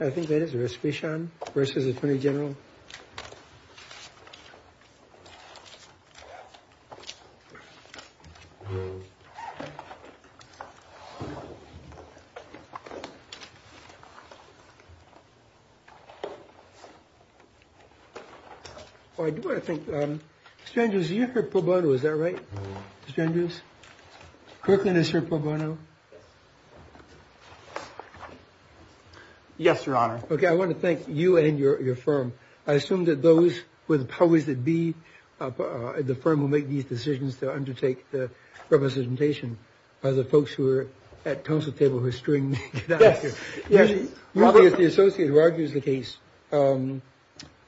I think that is Epichan v. Attorney General. I do want to thank, Strandews, you're from Pueblo, is that right? Strandews? Kirkland is from Pueblo, no? Yes, Your Honor. Okay, I want to thank you and your firm. I assume that those with powers that be at the firm who make these decisions to undertake the representation are the folks who are at council table who are strewing that out here. Yes. Probably it's the associate who argues the case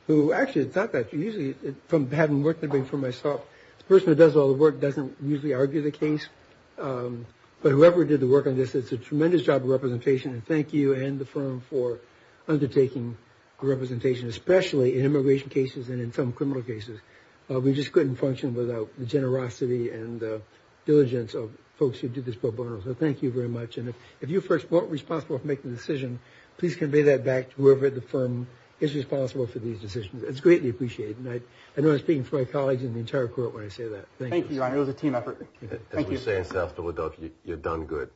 who actually thought that, usually from having worked for myself, the person who does all the work doesn't usually argue the case. But whoever did the work on this, it's a tremendous job of representation. And thank you and the firm for undertaking the representation, especially in immigration cases and in some criminal cases. We just couldn't function without the generosity and the diligence of folks who did this pro bono. So thank you very much. And if you first weren't responsible for making the decision, please convey that back to whoever at the firm is responsible for these decisions. It's greatly appreciated. And I know I'm speaking for my colleagues and the entire court when I say that. Thank you, Your Honor. It was a team effort. As we say in South Philadelphia, you're done good.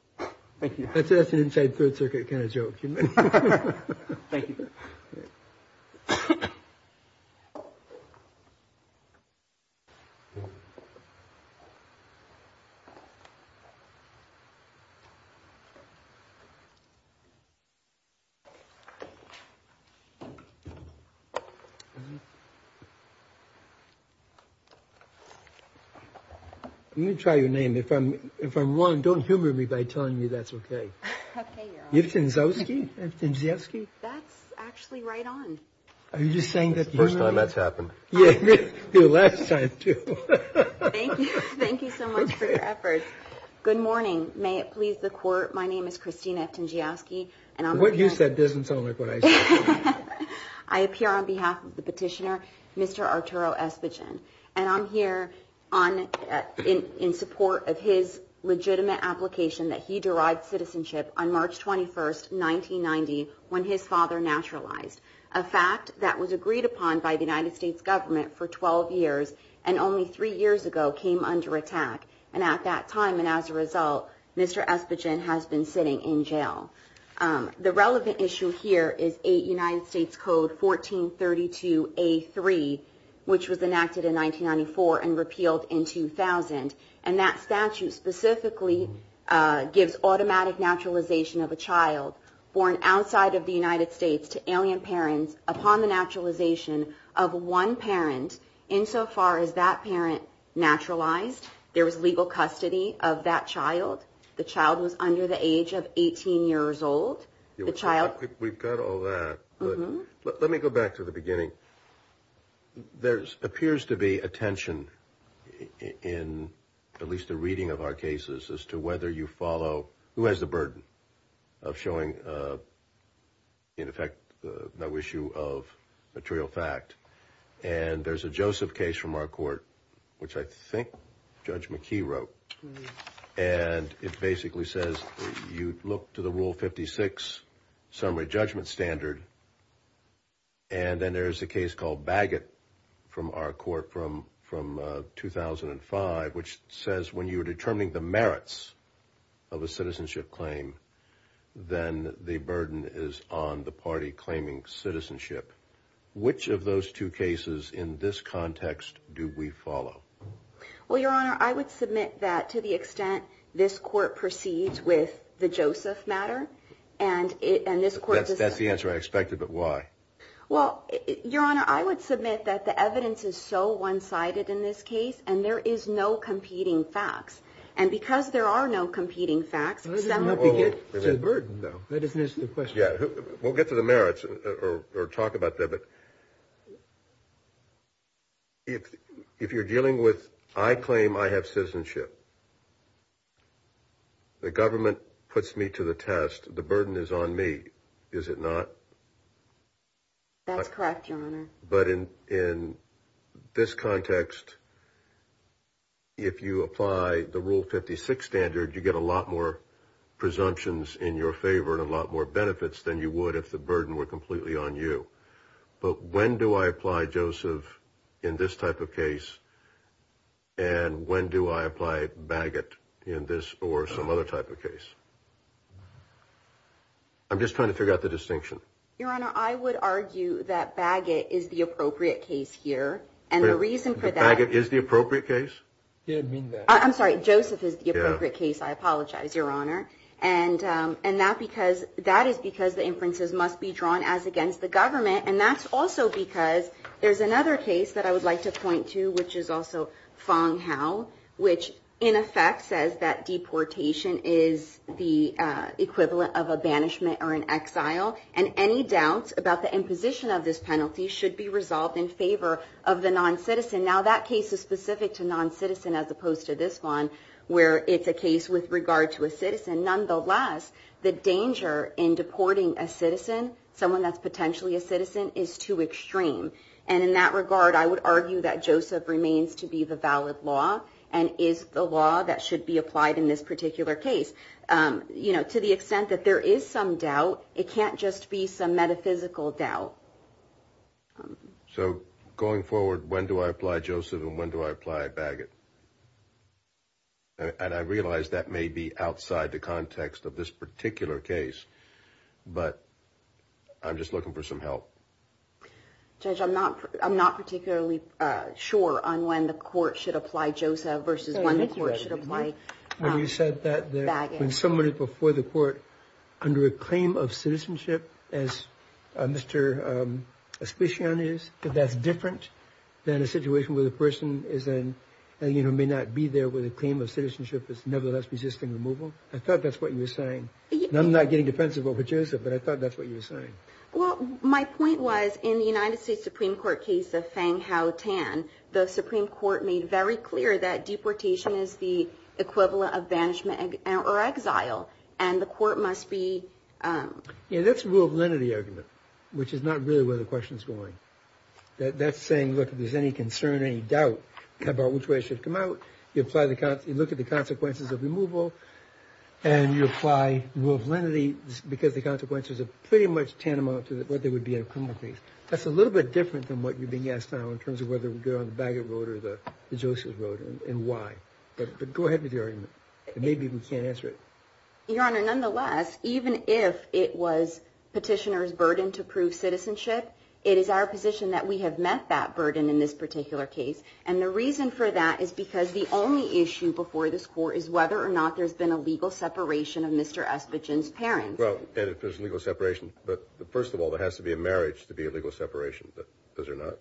Thank you. That's an inside Third Circuit kind of joke. Thank you. I'm going to try your name. If I'm wrong, don't humor me by telling me that's OK. OK, Your Honor. Yevchen Zosky? That's actually right on. Are you saying that? First time that's happened. Yeah. The last time, too. Thank you. Thank you so much for your efforts. Good morning. May it please the court. My name is Christina Ettingyowski. What you said doesn't sound like what I said. I appear on behalf of the petitioner, Mr. Arturo Espichin. And I'm here in support of his legitimate application that he derived citizenship on March 21st, 1990, when his father naturalized, a fact that was agreed upon by the United States government for 12 years and only three years ago came under attack. And at that time and as a result, Mr. Espichin has been sitting in jail. The relevant issue here is United States Code 1432A3, which was enacted in 1994 and repealed in 2000. And that statute specifically gives automatic naturalization of a child born outside of the United States to alien parents upon the naturalization of one parent insofar as that parent naturalized. There was legal custody of that child. The child was under the age of 18 years old. We've got all that. But let me go back to the beginning. There appears to be a tension in at least a reading of our cases as to whether you follow who has the burden of showing, in effect, no issue of material fact. And there's a Joseph case from our court, which I think Judge McKee wrote. And it basically says you look to the Rule 56 summary judgment standard. And then there's a case called Bagot from our court from 2005, which says when you are determining the merits of a citizenship claim, then the burden is on the party claiming citizenship. Which of those two cases in this context do we follow? Well, Your Honor, I would submit that to the extent this court proceeds with the Joseph matter and this court does not. That's the answer I expected, but why? Well, Your Honor, I would submit that the evidence is so one-sided in this case, and there is no competing facts. And because there are no competing facts, some of the… It's a burden, though. That doesn't answer the question. Yeah. We'll get to the merits or talk about that. But if you're dealing with I claim I have citizenship, the government puts me to the test. The burden is on me, is it not? But in this context, if you apply the Rule 56 standard, you get a lot more presumptions in your favor and a lot more benefits than you would if the burden were completely on you. But when do I apply Joseph in this type of case, and when do I apply Bagot in this or some other type of case? I'm just trying to figure out the distinction. Your Honor, I would argue that Bagot is the appropriate case here, and the reason for that… Bagot is the appropriate case? I'm sorry. Joseph is the appropriate case. I apologize, Your Honor. And that is because the inferences must be drawn as against the government, and that's also because there's another case that I would like to point to, which is also Fang Hao, which in effect says that deportation is the equivalent of a banishment or an exile, and any doubts about the imposition of this penalty should be resolved in favor of the non-citizen. Now, that case is specific to non-citizen as opposed to this one, where it's a case with regard to a citizen. Nonetheless, the danger in deporting a citizen, someone that's potentially a citizen, is too extreme. And in that regard, I would argue that Joseph remains to be the valid law and is the law that should be applied in this particular case. You know, to the extent that there is some doubt, it can't just be some metaphysical doubt. So going forward, when do I apply Joseph and when do I apply Bagot? And I realize that may be outside the context of this particular case, but I'm just looking for some help. Judge, I'm not particularly sure on when the court should apply Joseph versus when the court should apply Bagot. You said that when someone is before the court under a claim of citizenship, as Mr. Especian is, that that's different than a situation where the person may not be there with a claim of citizenship that's nevertheless resisting removal. I thought that's what you were saying. I'm not getting defensive over Joseph, but I thought that's what you were saying. Well, my point was, in the United States Supreme Court case of Fang-Hao Tan, the Supreme Court made very clear that deportation is the equivalent of banishment or exile, and the court must be... Yeah, that's a rule of lenity argument, which is not really where the question is going. That's saying, look, if there's any concern, any doubt about which way it should come out, you look at the consequences of removal and you apply rule of lenity because the consequences are pretty much tantamount to what they would be in a criminal case. That's a little bit different than what you're being asked now in terms of whether we go on the Bagot Road or the Joseph Road and why. But go ahead with your argument. Maybe we can't answer it. Your Honor, nonetheless, even if it was petitioner's burden to prove citizenship, it is our position that we have met that burden in this particular case. And the reason for that is because the only issue before this court is whether or not there's been a legal separation of Mr. Espichan's parents. Well, and if there's legal separation, but first of all, there has to be a marriage to be a legal separation. But those are not.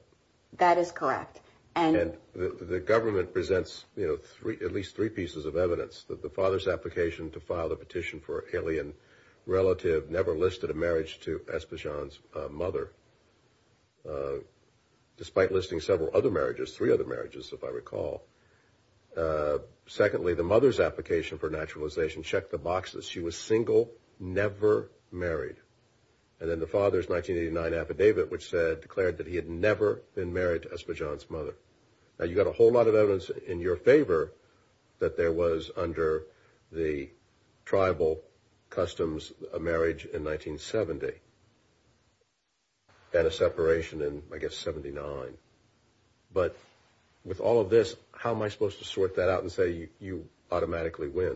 That is correct. And the government presents at least three pieces of evidence that the father's application to file the petition for an alien relative never listed a marriage to Espichan's mother, despite listing several other marriages, three other marriages, if I recall. Secondly, the mother's application for naturalization checked the boxes. She was single, never married. And then the father's 1989 affidavit, which declared that he had never been married to Espichan's mother. Now, you've got a whole lot of evidence in your favor that there was under the tribal customs a marriage in 1970 and a separation in, I guess, 79. But with all of this, how am I supposed to sort that out and say you automatically win?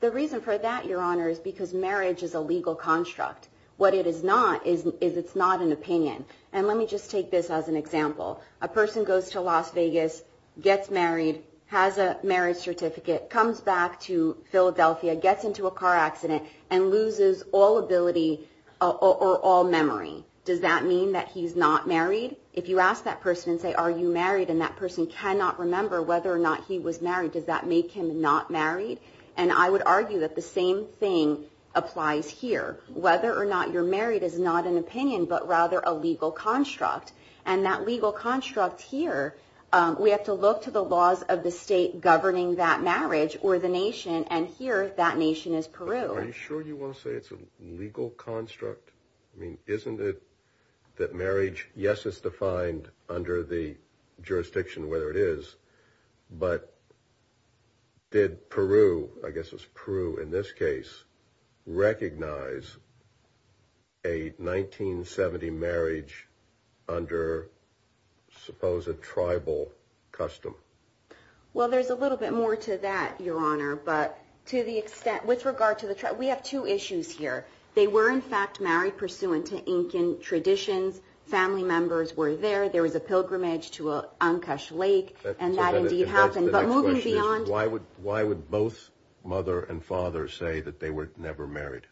The reason for that, Your Honor, is because marriage is a legal construct. What it is not is it's not an opinion. And let me just take this as an example. A person goes to Las Vegas, gets married, has a marriage certificate, comes back to Philadelphia, gets into a car accident, and loses all ability or all memory. Does that mean that he's not married? If you ask that person and say, are you married, and that person cannot remember whether or not he was married, does that make him not married? And I would argue that the same thing applies here. Whether or not you're married is not an opinion, but rather a legal construct. And that legal construct here, we have to look to the laws of the state governing that marriage or the nation. And here, that nation is Peru. Are you sure you want to say it's a legal construct? I mean, isn't it that marriage, yes, is defined under the jurisdiction, whether it is. But did Peru, I guess it's Peru in this case, recognize a 1970 marriage under supposed tribal custom? Well, there's a little bit more to that, Your Honor. But to the extent, with regard to the tribe, we have two issues here. They were, in fact, married pursuant to Incan traditions. Family members were there. There was a pilgrimage to Ancash Lake. And that indeed happened. But moving beyond. Why would both mother and father say that they were never married?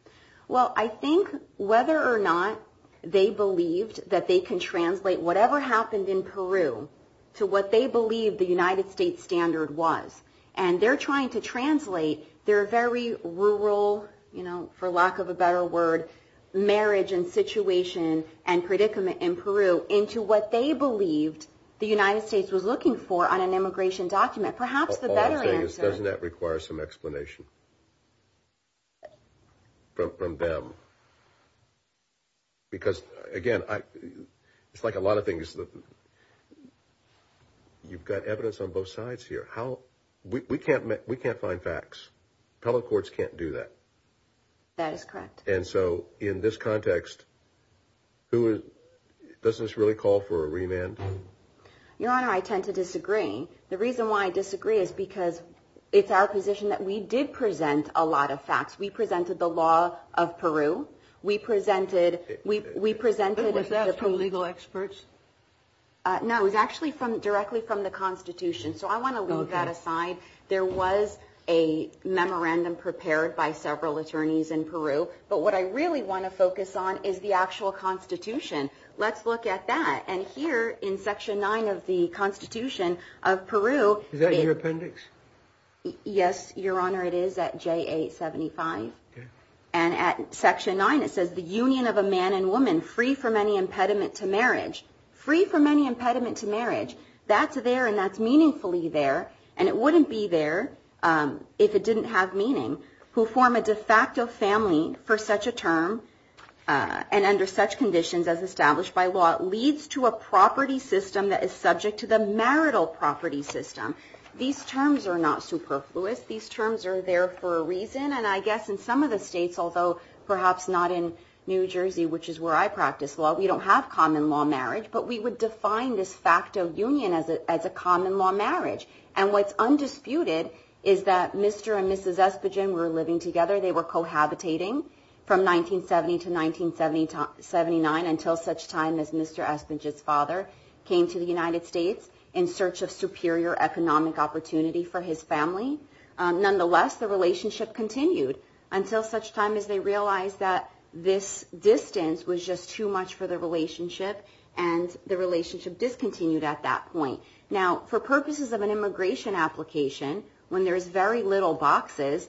Well, I think whether or not they believed that they can translate whatever happened in Peru to what they believed the United States standard was. And they're trying to translate their very rural, you know, for lack of a better word, marriage and situation and predicament in Peru into what they believed the United States was looking for on an immigration document. Perhaps the better answer. Doesn't that require some explanation from them? Because, again, it's like a lot of things. You've got evidence on both sides here. We can't find facts. Public courts can't do that. That is correct. And so in this context, doesn't this really call for a remand? Your Honor, I tend to disagree. The reason why I disagree is because it's our position that we did present a lot of facts. We presented the law of Peru. We presented the legal experts. No, it was actually directly from the Constitution. So I want to leave that aside. There was a memorandum prepared by several attorneys in Peru. But what I really want to focus on is the actual Constitution. Let's look at that. And here in Section 9 of the Constitution of Peru. Is that in your appendix? Yes, Your Honor, it is at JA 75. And at Section 9 it says the union of a man and woman free from any impediment to marriage. Free from any impediment to marriage. That's there and that's meaningfully there. And it wouldn't be there if it didn't have meaning. Who form a de facto family for such a term and under such conditions as established by law. Leads to a property system that is subject to the marital property system. These terms are not superfluous. These terms are there for a reason. And I guess in some of the states, although perhaps not in New Jersey, which is where I practice law, we don't have common law marriage. But we would define this de facto union as a common law marriage. And what's undisputed is that Mr. and Mrs. Esposito were living together. They were cohabitating from 1970 to 1979 until such time as Mr. Esposito's father came to the United States in search of superior economic opportunity for his family. Nonetheless, the relationship continued until such time as they realized that this distance was just too much for the relationship and the relationship discontinued at that point. Now, for purposes of an immigration application, when there is very little boxes,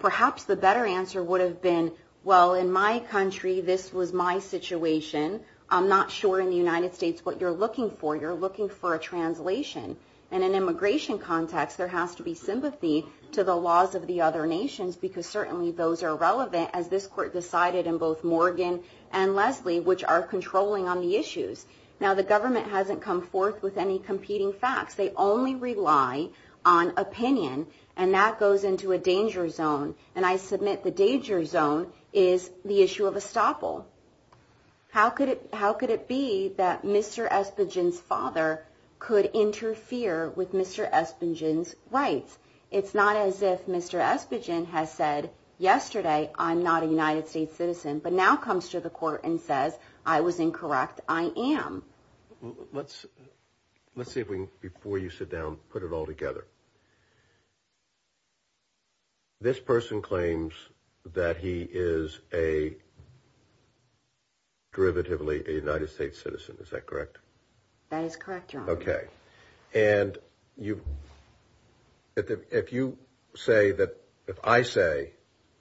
perhaps the better answer would have been, well, in my country, this was my situation. I'm not sure in the United States what you're looking for. You're looking for a translation. And in an immigration context, there has to be sympathy to the laws of the other nations because certainly those are relevant, as this court decided in both Morgan and Leslie, which are controlling on the issues. Now, the government hasn't come forth with any competing facts. They only rely on opinion. And that goes into a danger zone. And I submit the danger zone is the issue of estoppel. How could it be that Mr. Esposito's father could interfere with Mr. Esposito's rights? It's not as if Mr. Esposito has said yesterday, I'm not a United States citizen, but now comes to the court and says, I was incorrect. I am. Let's see if we can, before you sit down, put it all together. This person claims that he is a, derivatively, a United States citizen. Is that correct? That is correct, Your Honor. Okay. And if you say that, if I say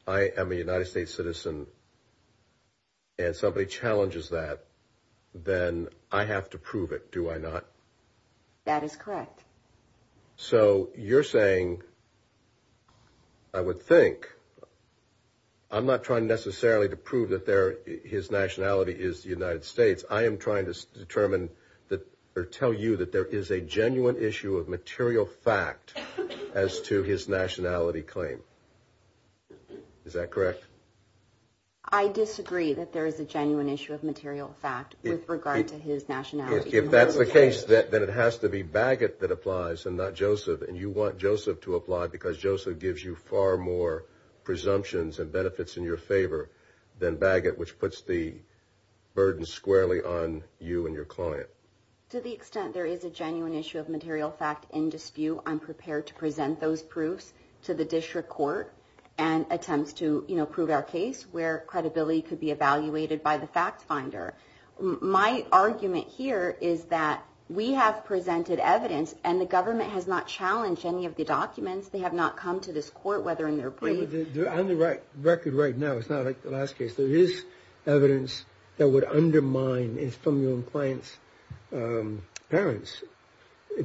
I am a United States citizen and somebody challenges that, then I have to prove it, do I not? That is correct. So you're saying, I would think, I'm not trying necessarily to prove that his nationality is the United States. I am trying to tell you that there is a genuine issue of material fact as to his nationality claim. Is that correct? I disagree that there is a genuine issue of material fact with regard to his nationality. If that's the case, then it has to be Baggett that applies and not Joseph, and you want Joseph to apply because Joseph gives you far more presumptions and benefits in your favor than Baggett, which puts the burden squarely on you and your client. To the extent there is a genuine issue of material fact in dispute, I'm prepared to present those proofs to the district court and attempt to prove our case where credibility could be evaluated by the fact finder. My argument here is that we have presented evidence and the government has not challenged any of the documents. They have not come to this court, whether in their brief. On the record right now, it's not like the last case, there is evidence that would undermine, from your own client's parents,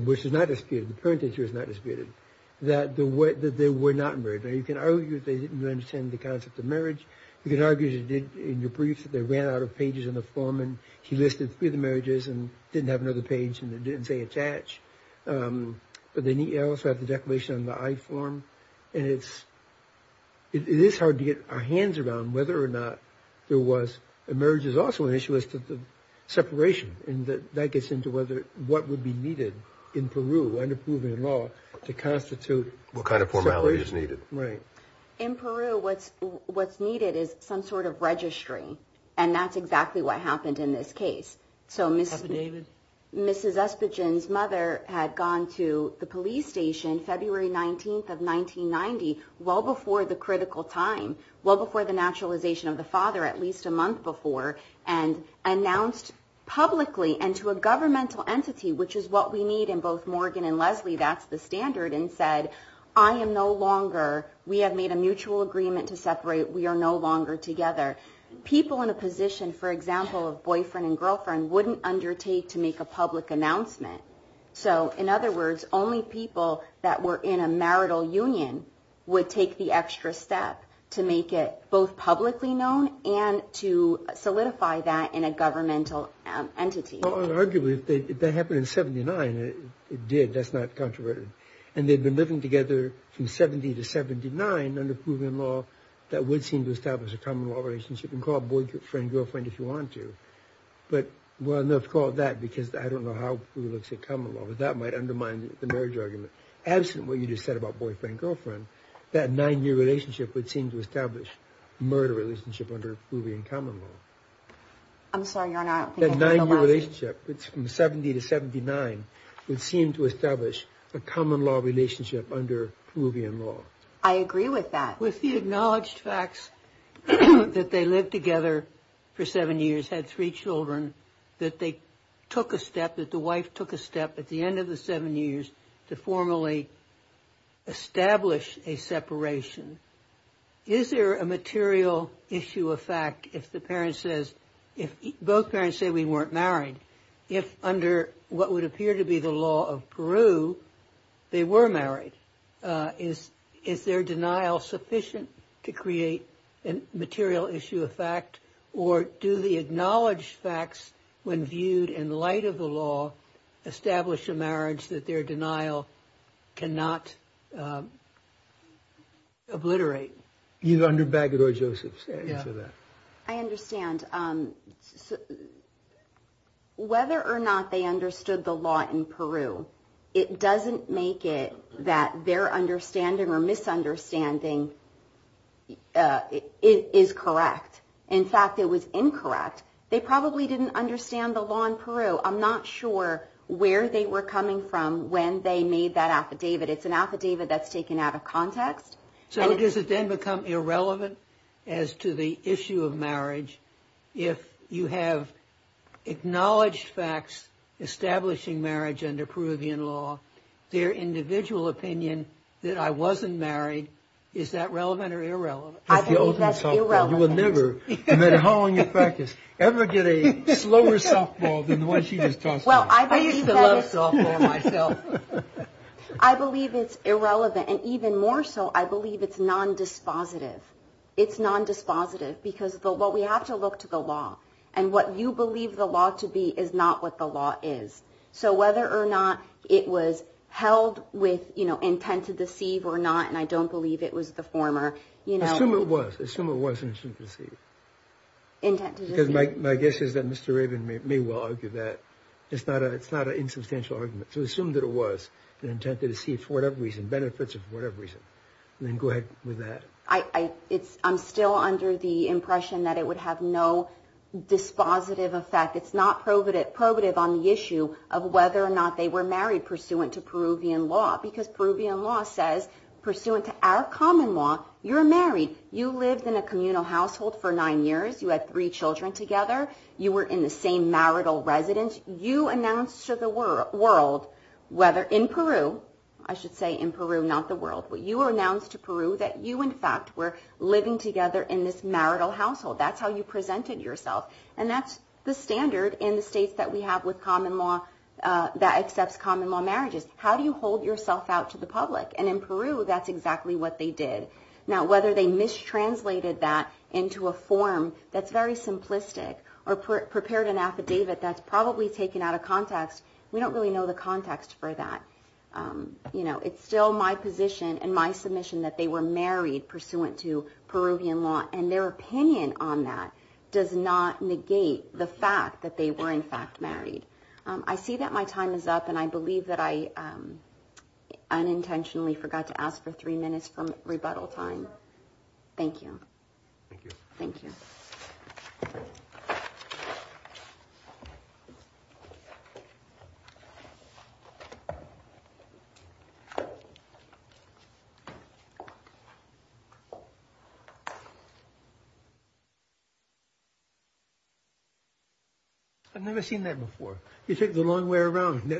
which is not disputed, the parentage here is not disputed, that they were not married. Now you can argue that they didn't understand the concept of marriage. You can argue, as you did in your brief, that they ran out of pages in the form and he listed three of the marriages and didn't have another page and it didn't say attach. But then you also have the declaration on the I form, and it is hard to get our hands around whether or not there was, a marriage is also an issue as to the separation, and that gets into what would be needed in Peru under Peruvian law to constitute separation. What kind of formality is needed? In Peru, what's needed is some sort of registry, and that's exactly what happened in this case. Mrs. Espichan's mother had gone to the police station February 19th of 1990, well before the critical time, well before the naturalization of the father, at least a month before, and announced publicly and to a governmental entity, which is what we need in both Morgan and Leslie, that's the standard, and said, I am no longer, we have made a mutual agreement to separate, we are no longer together. People in a position, for example, of boyfriend and girlfriend, wouldn't undertake to make a public announcement. So, in other words, only people that were in a marital union would take the extra step to make it both publicly known and to solidify that in a governmental entity. Well, arguably, if that happened in 79, it did, that's not controversial. And they'd been living together from 70 to 79 under Peruvian law, that would seem to establish a common law relationship, and call it boyfriend-girlfriend if you want to. But, well, not to call it that, because I don't know how Peru looks at common law, but that might undermine the marriage argument. Absent what you just said about boyfriend-girlfriend, that nine-year relationship would seem to establish a murder relationship under Peruvian common law. I'm sorry, Your Honor, I don't think I heard the last part. I agree with that. With the acknowledged facts that they lived together for seven years, had three children, that they took a step, that the wife took a step at the end of the seven years to formally establish a separation, is there a material issue of fact if the parent says, if both parents say we weren't married, if under what would appear to be the law of Peru, they were married, is their denial sufficient to create a material issue of fact, or do the acknowledged facts, when viewed in light of the law, establish a marriage that their denial cannot obliterate? Either under Bagot or Joseph's. I understand. Whether or not they understood the law in Peru, it doesn't make it that their understanding or misunderstanding is correct. In fact, it was incorrect. They probably didn't understand the law in Peru. I'm not sure where they were coming from when they made that affidavit. It's an affidavit that's taken out of context. So does it then become irrelevant as to the issue of marriage if you have acknowledged facts establishing marriage under Peruvian law, their individual opinion that I wasn't married, is that relevant or irrelevant? I believe that's irrelevant. You will never, no matter how long you practice, ever get a slower softball than the one she just tossed to us. I used to love softball myself. I believe it's irrelevant, and even more so, I believe it's non-dispositive. It's non-dispositive because we have to look to the law, and what you believe the law to be is not what the law is. So whether or not it was held with intent to deceive or not, and I don't believe it was the former. Assume it was, assume it was intent to deceive. Because my guess is that Mr. Rabin may well argue that. It's not an insubstantial argument, so assume that it was an intent to deceive for whatever reason, benefits of whatever reason, and then go ahead with that. I'm still under the impression that it would have no dispositive effect. It's not probative on the issue of whether or not they were married pursuant to Peruvian law, because Peruvian law says, pursuant to our common law, you're married. You lived in a communal household for nine years. You had three children together. You were in the same marital residence. You announced to the world, whether in Peru, I should say in Peru, not the world, but you announced to Peru that you, in fact, were living together in this marital household. That's how you presented yourself, and that's the standard in the states that we have with common law that accepts common law marriages. How do you hold yourself out to the public? And in Peru, that's exactly what they did. Now, whether they mistranslated that into a form that's very simplistic or prepared an affidavit that's probably taken out of context, we don't really know the context for that. It's still my position and my submission that they were married pursuant to Peruvian law, and their opinion on that does not negate the fact that they were, in fact, married. I see that my time is up, and I believe that I unintentionally forgot to ask for three minutes for rebuttal time. Thank you. Thank you. Thank you. I've never seen that before. You took the long way around. I'm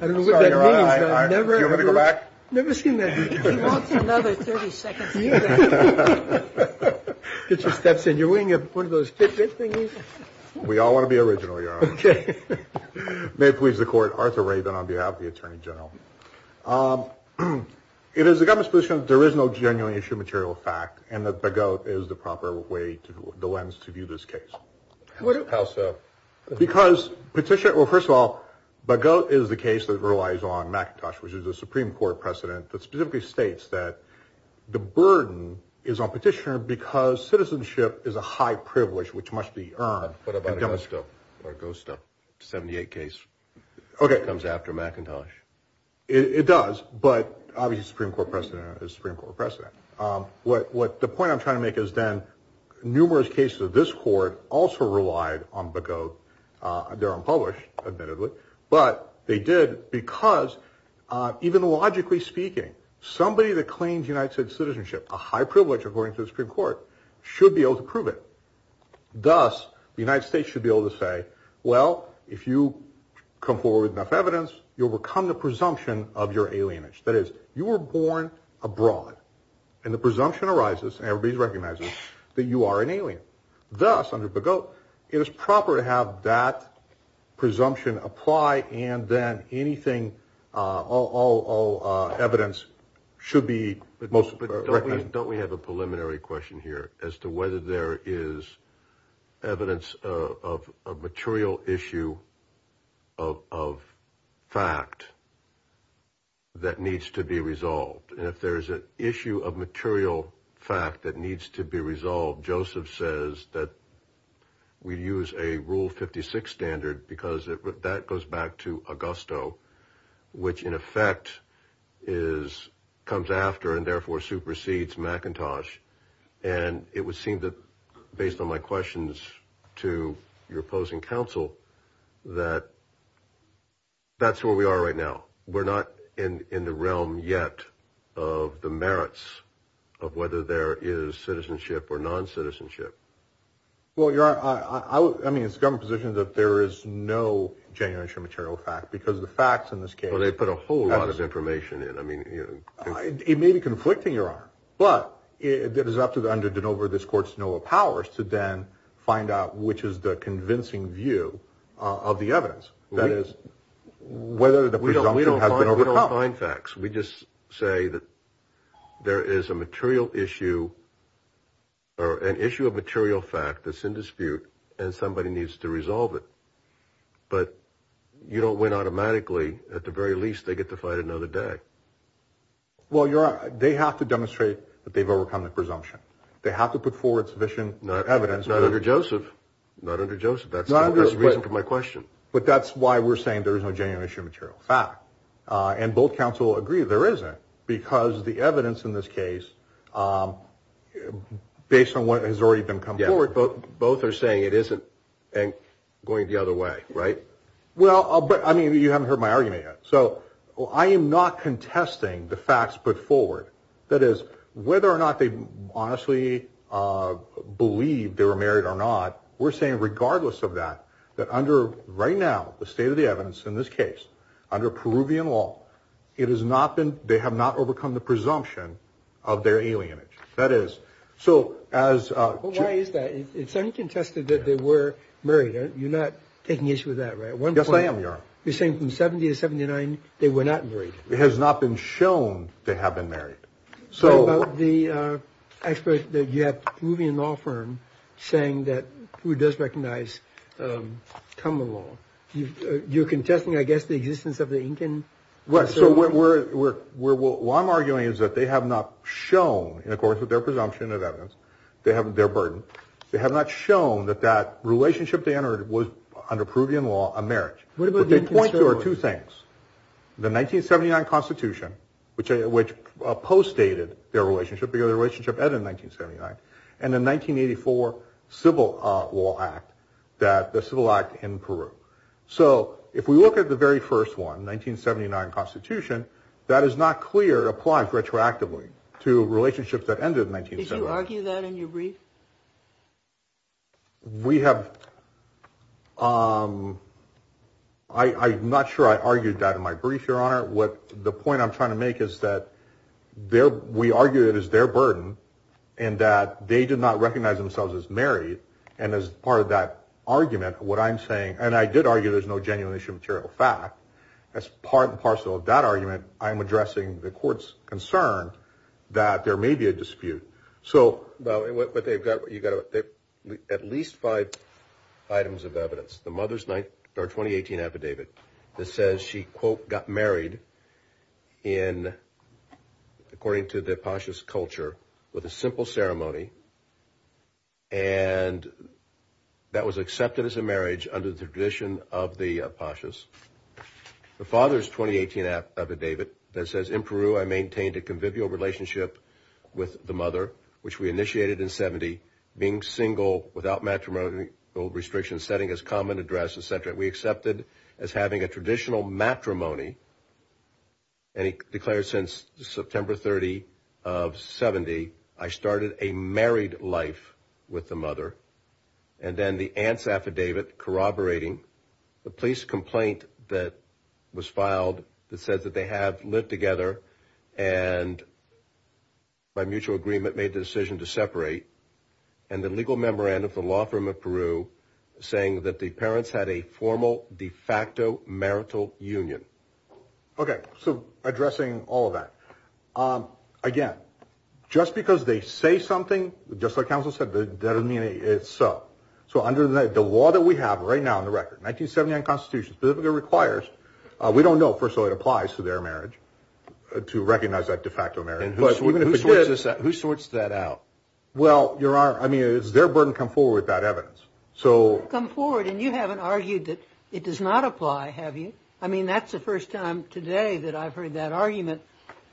sorry. Do you want me to go back? I've never seen that before. He wants another 30 seconds. Get your steps in your wing. You have one of those Fitbit thingies. We all want to be original, Your Honor. May it please the Court. Arthur Rabin on behalf of the Attorney General. It is the government's position that there is no genuine issue of material fact and that Begote is the proper way, the lens to view this case. How so? Because petitioner – well, first of all, Begote is the case that relies on Supreme Court precedent that specifically states that the burden is on petitioner because citizenship is a high privilege which must be earned. What about Augusto? Augusto, 78 case, comes after McIntosh. It does, but obviously Supreme Court precedent is Supreme Court precedent. The point I'm trying to make is then numerous cases of this court also relied on Begote. They're unpublished, admittedly. But they did because even logically speaking, somebody that claims United States citizenship, a high privilege according to the Supreme Court, should be able to prove it. Thus, the United States should be able to say, well, if you come forward with enough evidence, you'll overcome the presumption of your alienage. That is, you were born abroad, and the presumption arises, and everybody recognizes that you are an alien. Thus, under Begote, it is proper to have that presumption apply, and then anything, all evidence should be most – But don't we have a preliminary question here as to whether there is evidence of a material issue of fact that needs to be resolved. And if there is an issue of material fact that needs to be resolved, Joseph says that we use a Rule 56 standard because that goes back to Augusto, which in effect comes after and therefore supersedes McIntosh. And it would seem that, based on my questions to your opposing counsel, that that's where we are right now. We're not in the realm yet of the merits of whether there is citizenship or non-citizenship. Well, Your Honor, I mean, it's the government's position that there is no genuine issue of material fact, because the facts in this case – Well, they put a whole lot of information in. It may be conflicting, Your Honor, but it is up to, under De Novo, this Court's Noah Powers, to then find out which is the convincing view of the evidence. That is, whether the presumption has been overcome. We don't find facts. We just say that there is a material issue or an issue of material fact that's in dispute, and somebody needs to resolve it. But you don't win automatically. At the very least, they get to fight another day. Well, Your Honor, they have to demonstrate that they've overcome the presumption. They have to put forward sufficient evidence. Not under Joseph. Not under Joseph. That's the reason for my question. But that's why we're saying there is no genuine issue of material fact. And both counsel agree there isn't, because the evidence in this case, based on what has already been put forward – Yeah, but both are saying it isn't, and going the other way, right? Well, but, I mean, you haven't heard my argument yet. So I am not contesting the facts put forward. That is, whether or not they honestly believe they were married or not, we're saying regardless of that, that under, right now, the state of the evidence in this case, under Peruvian law, it has not been – they have not overcome the presumption of their alienage. That is, so as – Well, why is that? It's uncontested that they were married. You're not taking issue with that, right? At one point – Yes, I am, Your Honor. You're saying from 70 to 79, they were not married. It has not been shown they have been married. So – What about the expert that you have, Peruvian law firm, saying that who does recognize common law? You're contesting, I guess, the existence of the Incan? Right, so we're – what I'm arguing is that they have not shown, in accordance with their presumption of evidence, their burden, they have not shown that that relationship they entered was, under Peruvian law, a marriage. What they point to are two things. The 1979 Constitution, which post-dated their relationship, because their relationship ended in 1979, and the 1984 Civil Law Act, the Civil Act in Peru. So if we look at the very first one, 1979 Constitution, that is not clear it applies retroactively to relationships that ended in 1979. Did you argue that in your brief? We have – I'm not sure I argued that in my brief, Your Honor. The point I'm trying to make is that we argue it is their burden and that they did not recognize themselves as married. And as part of that argument, what I'm saying – and I did argue there's no genuine issue of material fact. As part and parcel of that argument, So – but they've got – you've got at least five items of evidence. The mother's 2018 affidavit that says she, quote, got married in – according to the Pachis culture, with a simple ceremony, and that was accepted as a marriage under the tradition of the Pachis. The father's 2018 affidavit that says, In Peru, I maintained a convivial relationship with the mother, which we initiated in 70, being single without matrimonial restrictions, setting as common address, et cetera. We accepted as having a traditional matrimony, and he declared since September 30 of 70, I started a married life with the mother. And then the aunt's affidavit corroborating the police complaint that was filed that says that they have lived together and by mutual agreement made the decision to separate. And the legal memorandum from the law firm of Peru saying that the parents had a formal de facto marital union. Okay, so addressing all of that. Again, just because they say something, just like Counsel said, that doesn't mean it's so. So under the law that we have right now on the record, the 1979 Constitution specifically requires, we don't know, first of all, it applies to their marriage to recognize that de facto marriage. Who sorts that out? Well, Your Honor, I mean, it's their burden to come forward with that evidence. You've come forward and you haven't argued that it does not apply, have you? I mean, that's the first time today that I've heard that argument.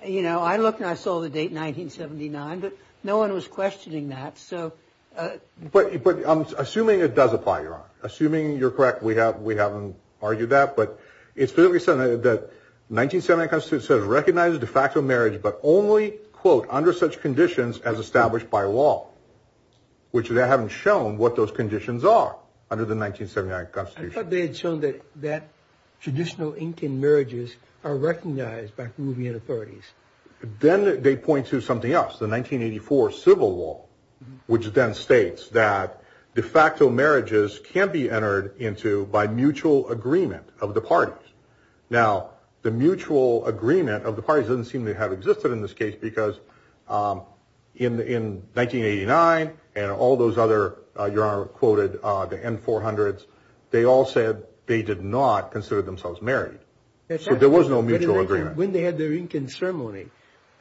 You know, I looked and I saw the date 1979, but no one was questioning that. But assuming it does apply, Your Honor, assuming you're correct, we haven't argued that. But it's specifically said that the 1979 Constitution says recognize de facto marriage but only, quote, under such conditions as established by law, which they haven't shown what those conditions are under the 1979 Constitution. I thought they had shown that traditional Incan marriages are recognized by Peruvian authorities. Then they point to something else, the 1984 civil law, which then states that de facto marriages can't be entered into by mutual agreement of the parties. Now, the mutual agreement of the parties doesn't seem to have existed in this case because in 1989 and all those other, Your Honor quoted, the N400s, they all said they did not consider themselves married. So there was no mutual agreement. When they had their Incan ceremony,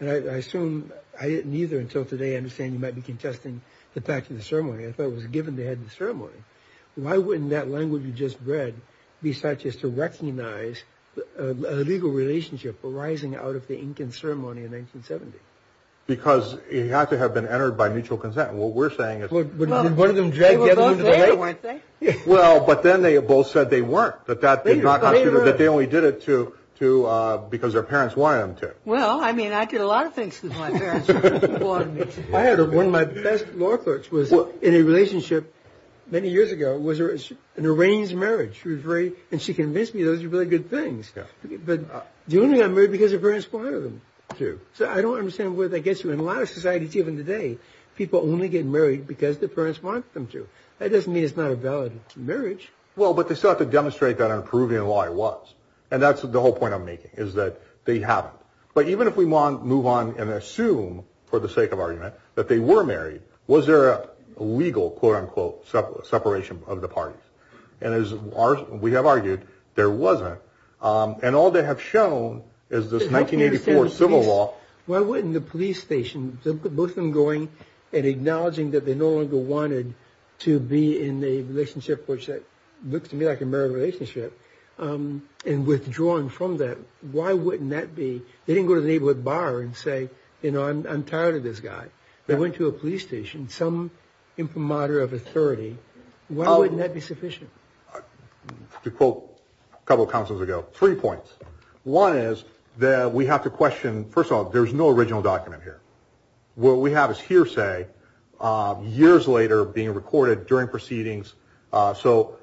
and I assume neither until today, I understand you might be contesting the fact of the ceremony. I thought it was given they had the ceremony. Why wouldn't that language you just read be such as to recognize a legal relationship arising out of the Incan ceremony in 1970? Because it had to have been entered by mutual consent. What we're saying is one of them dragged the other into the debate. They were both there, weren't they? Well, but then they both said they weren't, that they only did it because their parents wanted them to. Well, I mean, I did a lot of things because my parents wanted me to. I had one of my best law clerks was in a relationship many years ago. It was an arranged marriage. And she convinced me those were really good things. But you only got married because your parents wanted you to. So I don't understand where that gets you. In a lot of societies even today, people only get married because their parents want them to. That doesn't mean it's not a valid marriage. Well, but they still have to demonstrate that on Peruvian law it was. And that's the whole point I'm making, is that they haven't. But even if we want to move on and assume, for the sake of argument, that they were married, was there a legal, quote-unquote, separation of the parties? And as we have argued, there wasn't. And all they have shown is this 1984 civil law. Why wouldn't the police station, with them going and acknowledging that they no longer wanted to be in a relationship, which looks to me like a married relationship, and withdrawing from that, why wouldn't that be? They didn't go to the neighborhood bar and say, you know, I'm tired of this guy. They went to a police station, some imprimatur of authority. Why wouldn't that be sufficient? To quote a couple of counsels ago, three points. One is that we have to question, first of all, there's no original document here. What we have is hearsay years later being recorded during proceedings. So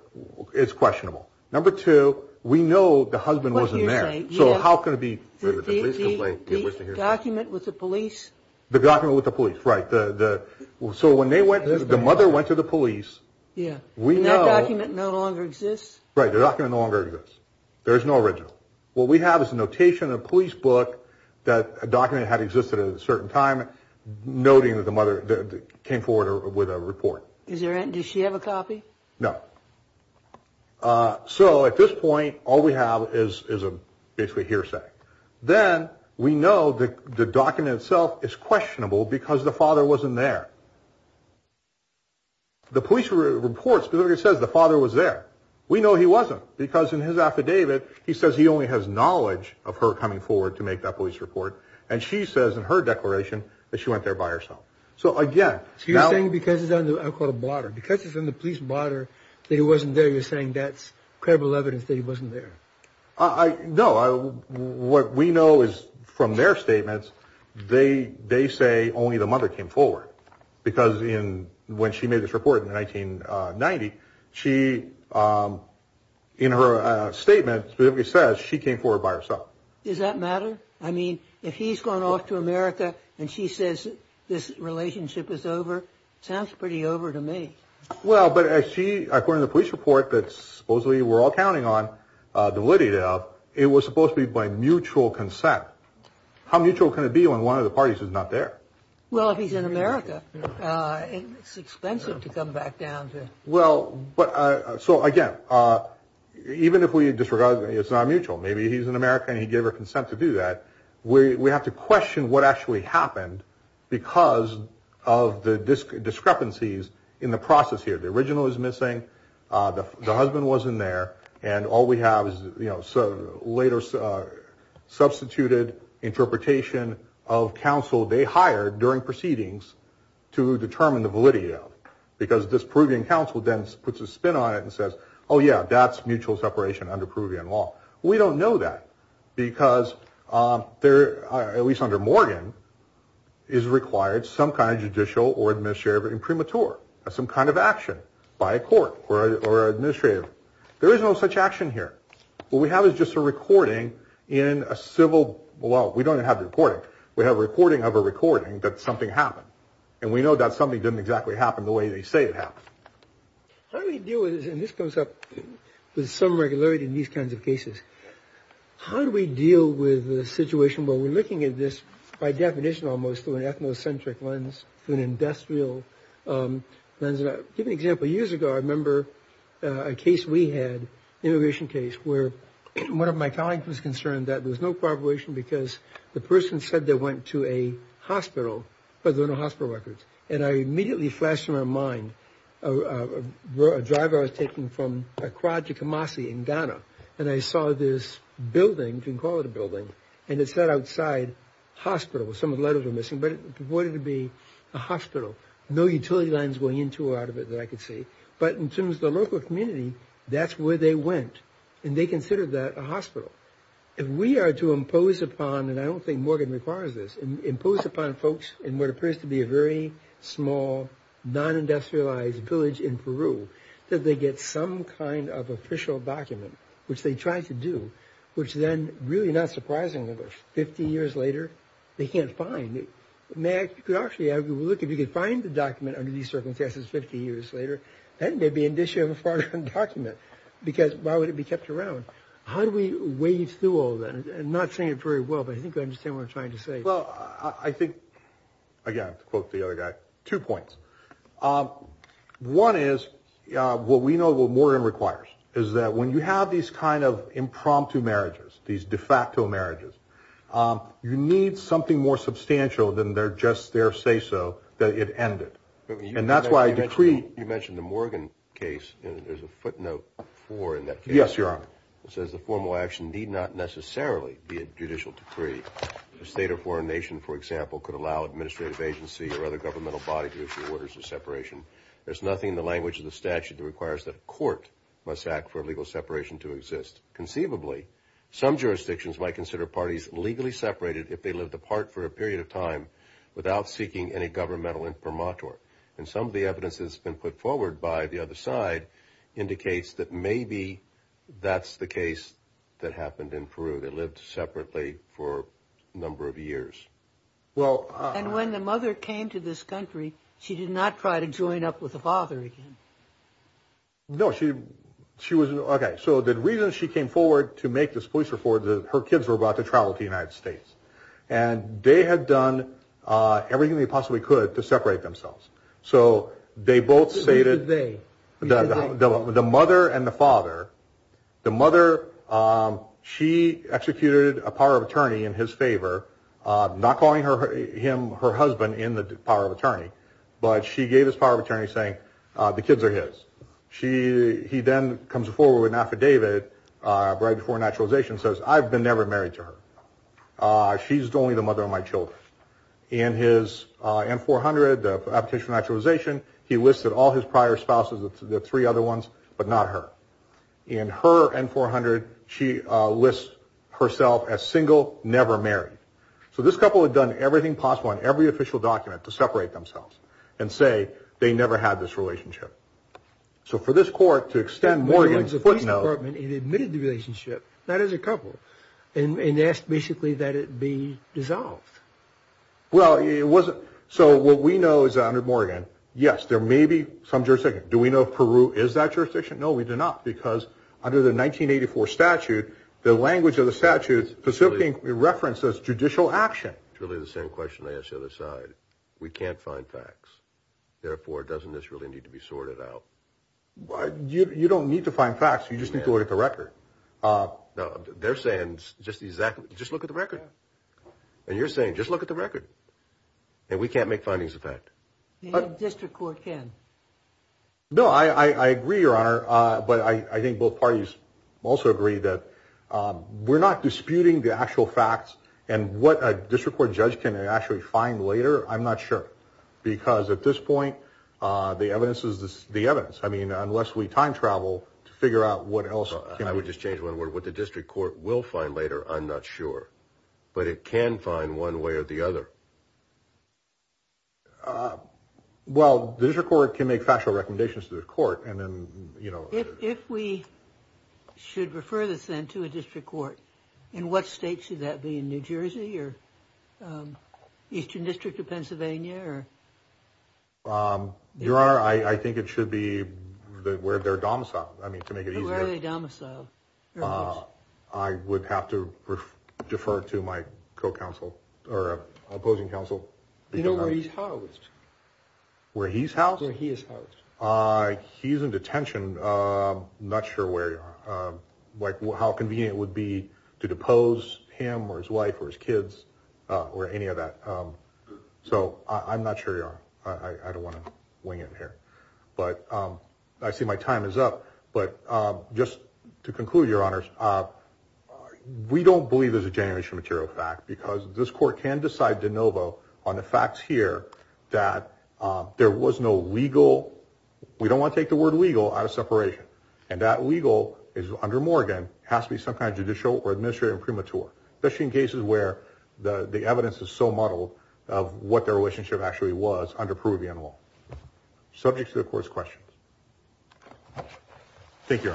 it's questionable. Number two, we know the husband wasn't there. So how could it be? The document with the police. The document with the police. Right. So when they went, the mother went to the police. Yeah. And that document no longer exists? Right. The document no longer exists. There is no original. What we have is a notation in a police book that a document had existed at a certain time, noting that the mother came forward with a report. Does she have a copy? No. So at this point, all we have is a basically hearsay. Then we know that the document itself is questionable because the father wasn't there. The police report specifically says the father was there. We know he wasn't because in his affidavit, he says he only has knowledge of her coming forward to make that police report. And she says in her declaration that she went there by herself. So again, you're saying because it's in the police blotter that he wasn't there, you're saying that's credible evidence that he wasn't there. No. What we know is from their statements, they say only the mother came forward. Because when she made this report in 1990, she in her statement specifically says she came forward by herself. Does that matter? I mean, if he's gone off to America and she says this relationship is over, it sounds pretty over to me. Well, but she according to the police report, that supposedly we're all counting on the Lydia, it was supposed to be by mutual consent. How mutual can it be when one of the parties is not there? Well, if he's in America, it's expensive to come back down to. Well, but so, again, even if we disregard that it's not mutual, maybe he's in America and he gave her consent to do that. We have to question what actually happened because of the discrepancies in the process here. The original is missing. The husband wasn't there. And all we have is, you know, so later substituted interpretation of counsel they hired during proceedings to determine the validity of, because this proving counsel then puts a spin on it and says, oh, yeah, that's mutual separation under Peruvian law. We don't know that because there are at least under Morgan is required some kind of judicial or administrative and premature or some kind of action by a court or administrative. There is no such action here. What we have is just a recording in a civil. Well, we don't have the report. We have a recording of a recording that something happened. And we know that something didn't exactly happen the way they say it happened. How do we deal with this? And this comes up with some regularity in these kinds of cases. How do we deal with the situation where we're looking at this by definition, almost through an ethnocentric lens, an industrial lens? Give an example. Years ago, I remember a case we had, immigration case, where one of my colleagues was concerned that there was no corroboration because the person said they went to a hospital, but there were no hospital records. And I immediately flashed in my mind a driver I was taking from Accra to Kamasi in Ghana, and I saw this building, you can call it a building, and it said outside hospital. Some of the letters were missing, but it reported to be a hospital. No utility lines going into or out of it that I could see. But in terms of the local community, that's where they went, and they considered that a hospital. If we are to impose upon, and I don't think Morgan requires this, impose upon folks in what appears to be a very small, non-industrialized village in Peru, that they get some kind of official document, which they tried to do, which then, really not surprisingly, 50 years later, they can't find it. You could actually argue, look, if you could find the document under these circumstances 50 years later, that may be an issue of a foreign document, because why would it be kept around? How do we wade through all that? I'm not saying it very well, but I think I understand what you're trying to say. Well, I think, again, to quote the other guy, two points. One is what we know what Morgan requires is that when you have these kind of impromptu marriages, these de facto marriages, you need something more substantial than their just their say-so that it ended. And that's why I decree. You mentioned the Morgan case, and there's a footnote for that case. Yes, Your Honor. It says the formal action need not necessarily be a judicial decree. The state or foreign nation, for example, could allow administrative agency or other governmental body to issue orders of separation. There's nothing in the language of the statute that requires that a court must act for legal separation to exist. Conceivably, some jurisdictions might consider parties legally separated if they lived apart for a period of time without seeking any governmental imprimatur. And some of the evidence has been put forward by the other side indicates that maybe that's the case that happened in Peru. They lived separately for a number of years. Well, and when the mother came to this country, she did not try to join up with the father again. No, she she was OK. So the reason she came forward to make this police report, her kids were about to travel to the United States and they had done everything they possibly could to separate themselves. So they both stated that the mother and the father, the mother. She executed a power of attorney in his favor, not calling her him, her husband in the power of attorney. But she gave his power of attorney saying the kids are his. She he then comes forward with an affidavit right before naturalization says I've been never married to her. She's the only the mother of my children in his four hundred petition naturalization. He listed all his prior spouses, the three other ones, but not her in her and four hundred. She lists herself as single, never married. So this couple had done everything possible in every official document to separate themselves and say they never had this relationship. So for this court to extend Morgan's footnote, he admitted the relationship. That is a couple. And that's basically that it be dissolved. Well, it wasn't. So what we know is under Morgan. Yes, there may be some jurisdiction. Do we know Peru is that jurisdiction? No, we do not. Because under the nineteen eighty four statute, the language of the statute specifically references judicial action. It's really the same question they set aside. We can't find facts. Therefore, doesn't this really need to be sorted out? You don't need to find facts. You just need to look at the record. They're saying just exactly. Just look at the record. And you're saying just look at the record and we can't make findings of that district court can. No, I agree, your honor. But I think both parties also agree that we're not disputing the actual facts and what a district court judge can actually find later. I'm not sure, because at this point, the evidence is the evidence. I mean, unless we time travel to figure out what else I would just change one word with the district court will find later. I'm not sure, but it can find one way or the other. Well, there's a court can make factual recommendations to the court. And then, you know, if we should refer this then to a district court. In what state should that be in New Jersey or Eastern District of Pennsylvania? Your honor, I think it should be where they're domiciled. I would have to defer to my co-counsel or opposing counsel. You know where he's housed? Where he's housed? Where he is housed. He's in detention. I'm not sure where like how convenient it would be to depose him or his wife or his kids or any of that. So I'm not sure. I don't want to wing it here, but I see my time is up. But just to conclude, your honors, we don't believe there's a generation material fact, because this court can decide de novo on the facts here that there was no legal. We don't want to take the word legal out of separation. And that legal is under Morgan has to be some kind of judicial or administrative premature, especially in cases where the evidence is so muddled of what their relationship actually was under proof of the animal. Subject to the court's questions. Thank you.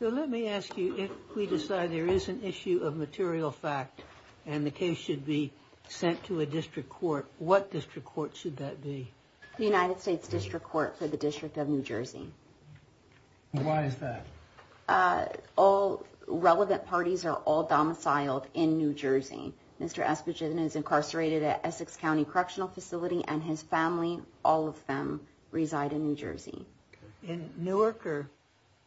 So let me ask you, if we decide there is an issue of material fact and the case should be sent to a district court, what district court should that be? The United States District Court for the District of New Jersey. Why is that? All relevant parties are all domiciled in New Jersey. Mr. Esposito is incarcerated at Essex County Correctional Facility and his family. All of them reside in New Jersey. In Newark or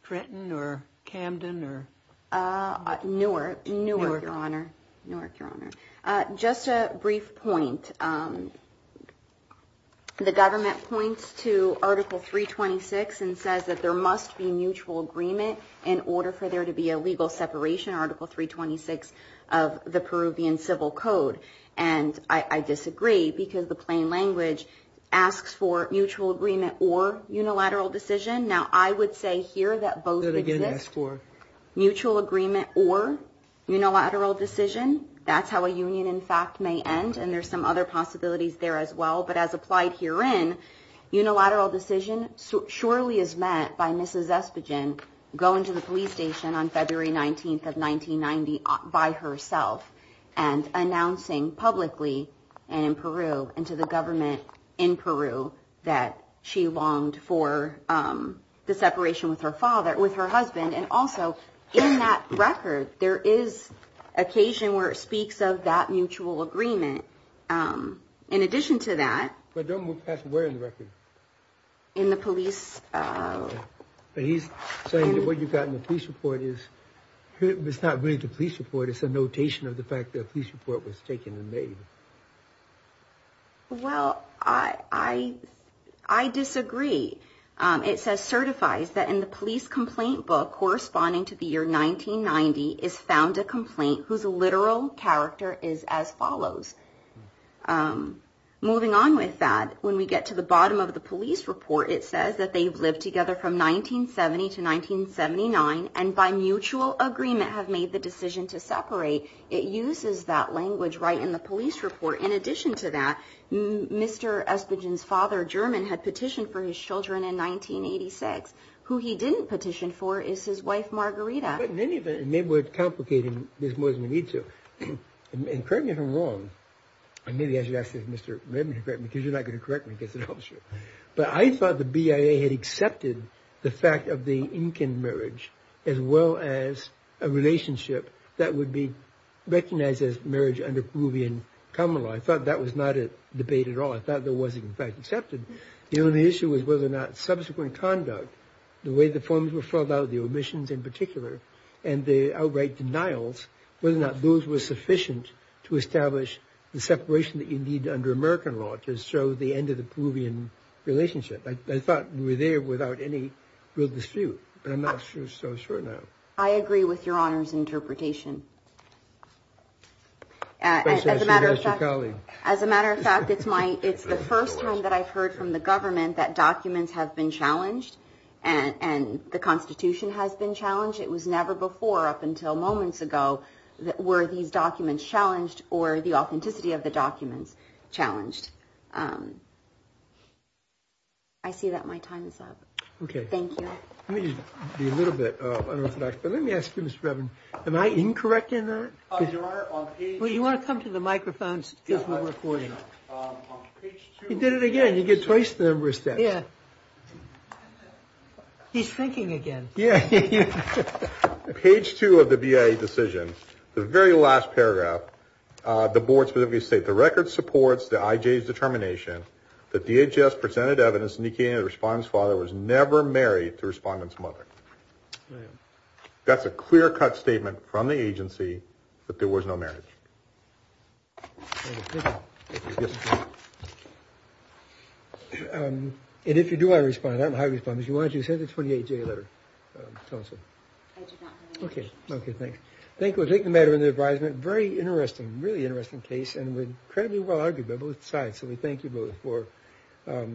Trenton or Camden or? Newark, Newark, your honor. Newark, your honor. Just a brief point. The government points to Article 326 and says that there must be mutual agreement in order for there to be a legal separation. Article 326 of the Peruvian Civil Code. And I disagree because the plain language asks for mutual agreement or unilateral decision. Now, I would say here that both again ask for mutual agreement or unilateral decision. That's how a union, in fact, may end. And there's some other possibilities there as well. But as applied herein, unilateral decision surely is met by Mrs. Esposito going to the police station on February 19th of 1990 by herself and announcing publicly and in Peru and to the government in Peru that she longed for the separation with her husband. And also in that record, there is occasion where it speaks of that mutual agreement. In addition to that. But don't move past where in the record? In the police. But he's saying that what you've got in the police report is it's not really the police report. It's a notation of the fact that a police report was taken and made. Well, I, I, I disagree. It says certifies that in the police complaint book corresponding to the year 1990 is found a complaint whose literal character is as follows. Moving on with that, when we get to the bottom of the police report, it says that they've lived together from 1970 to 1979. And by mutual agreement have made the decision to separate. It uses that language right in the police report. In addition to that, Mr. Esposito's father, German, had petitioned for his children in 1986. Who he didn't petition for is his wife, Margarita. But in any event, maybe we're complicating this more than we need to. And correct me if I'm wrong. Maybe I should ask Mr. Redmond to correct me because you're not going to correct me because it helps you. But I thought the BIA had accepted the fact of the Incan marriage as well as a relationship that would be recognized as marriage under Peruvian common law. I thought that was not a debate at all. I thought that wasn't, in fact, accepted. The only issue was whether or not subsequent conduct, the way the forms were filled out, the omissions in particular, and the outright denials, whether or not those were sufficient to establish the separation that you need under American law to show the end of the Peruvian relationship. I thought we were there without any real dispute. But I'm not so sure now. I agree with Your Honor's interpretation. As a matter of fact, it's the first time that I've heard from the government that documents have been challenged and the Constitution has been challenged. It was never before up until moments ago that were these documents challenged or the authenticity of the documents challenged. I see that my time is up. OK, thank you. Let me be a little bit unorthodox. But let me ask you, Mr. Redmond, am I incorrect in that? Well, you want to come to the microphones because we're recording. He did it again. You get twice the number of steps. Yeah. He's thinking again. Yeah. Page two of the BIA decision, the very last paragraph, the board specifically said, The record supports the IJ's determination that DHS presented evidence indicating the respondent's father was never married to the respondent's mother. That's a clear cut statement from the agency that there was no marriage. And if you do want to respond, I don't know how to respond. If you want to just hit the 28 day letter. OK. OK, thanks. Thank you. Take the matter into advisement. Very interesting. Really interesting case. And we're incredibly well argued by both sides. So we thank you both for a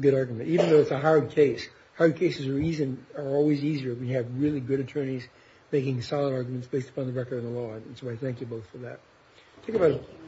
good argument, even though it's a hard case. Hard cases reason are always easier. We have really good attorneys making solid arguments based upon the record of the law. So I thank you both for that.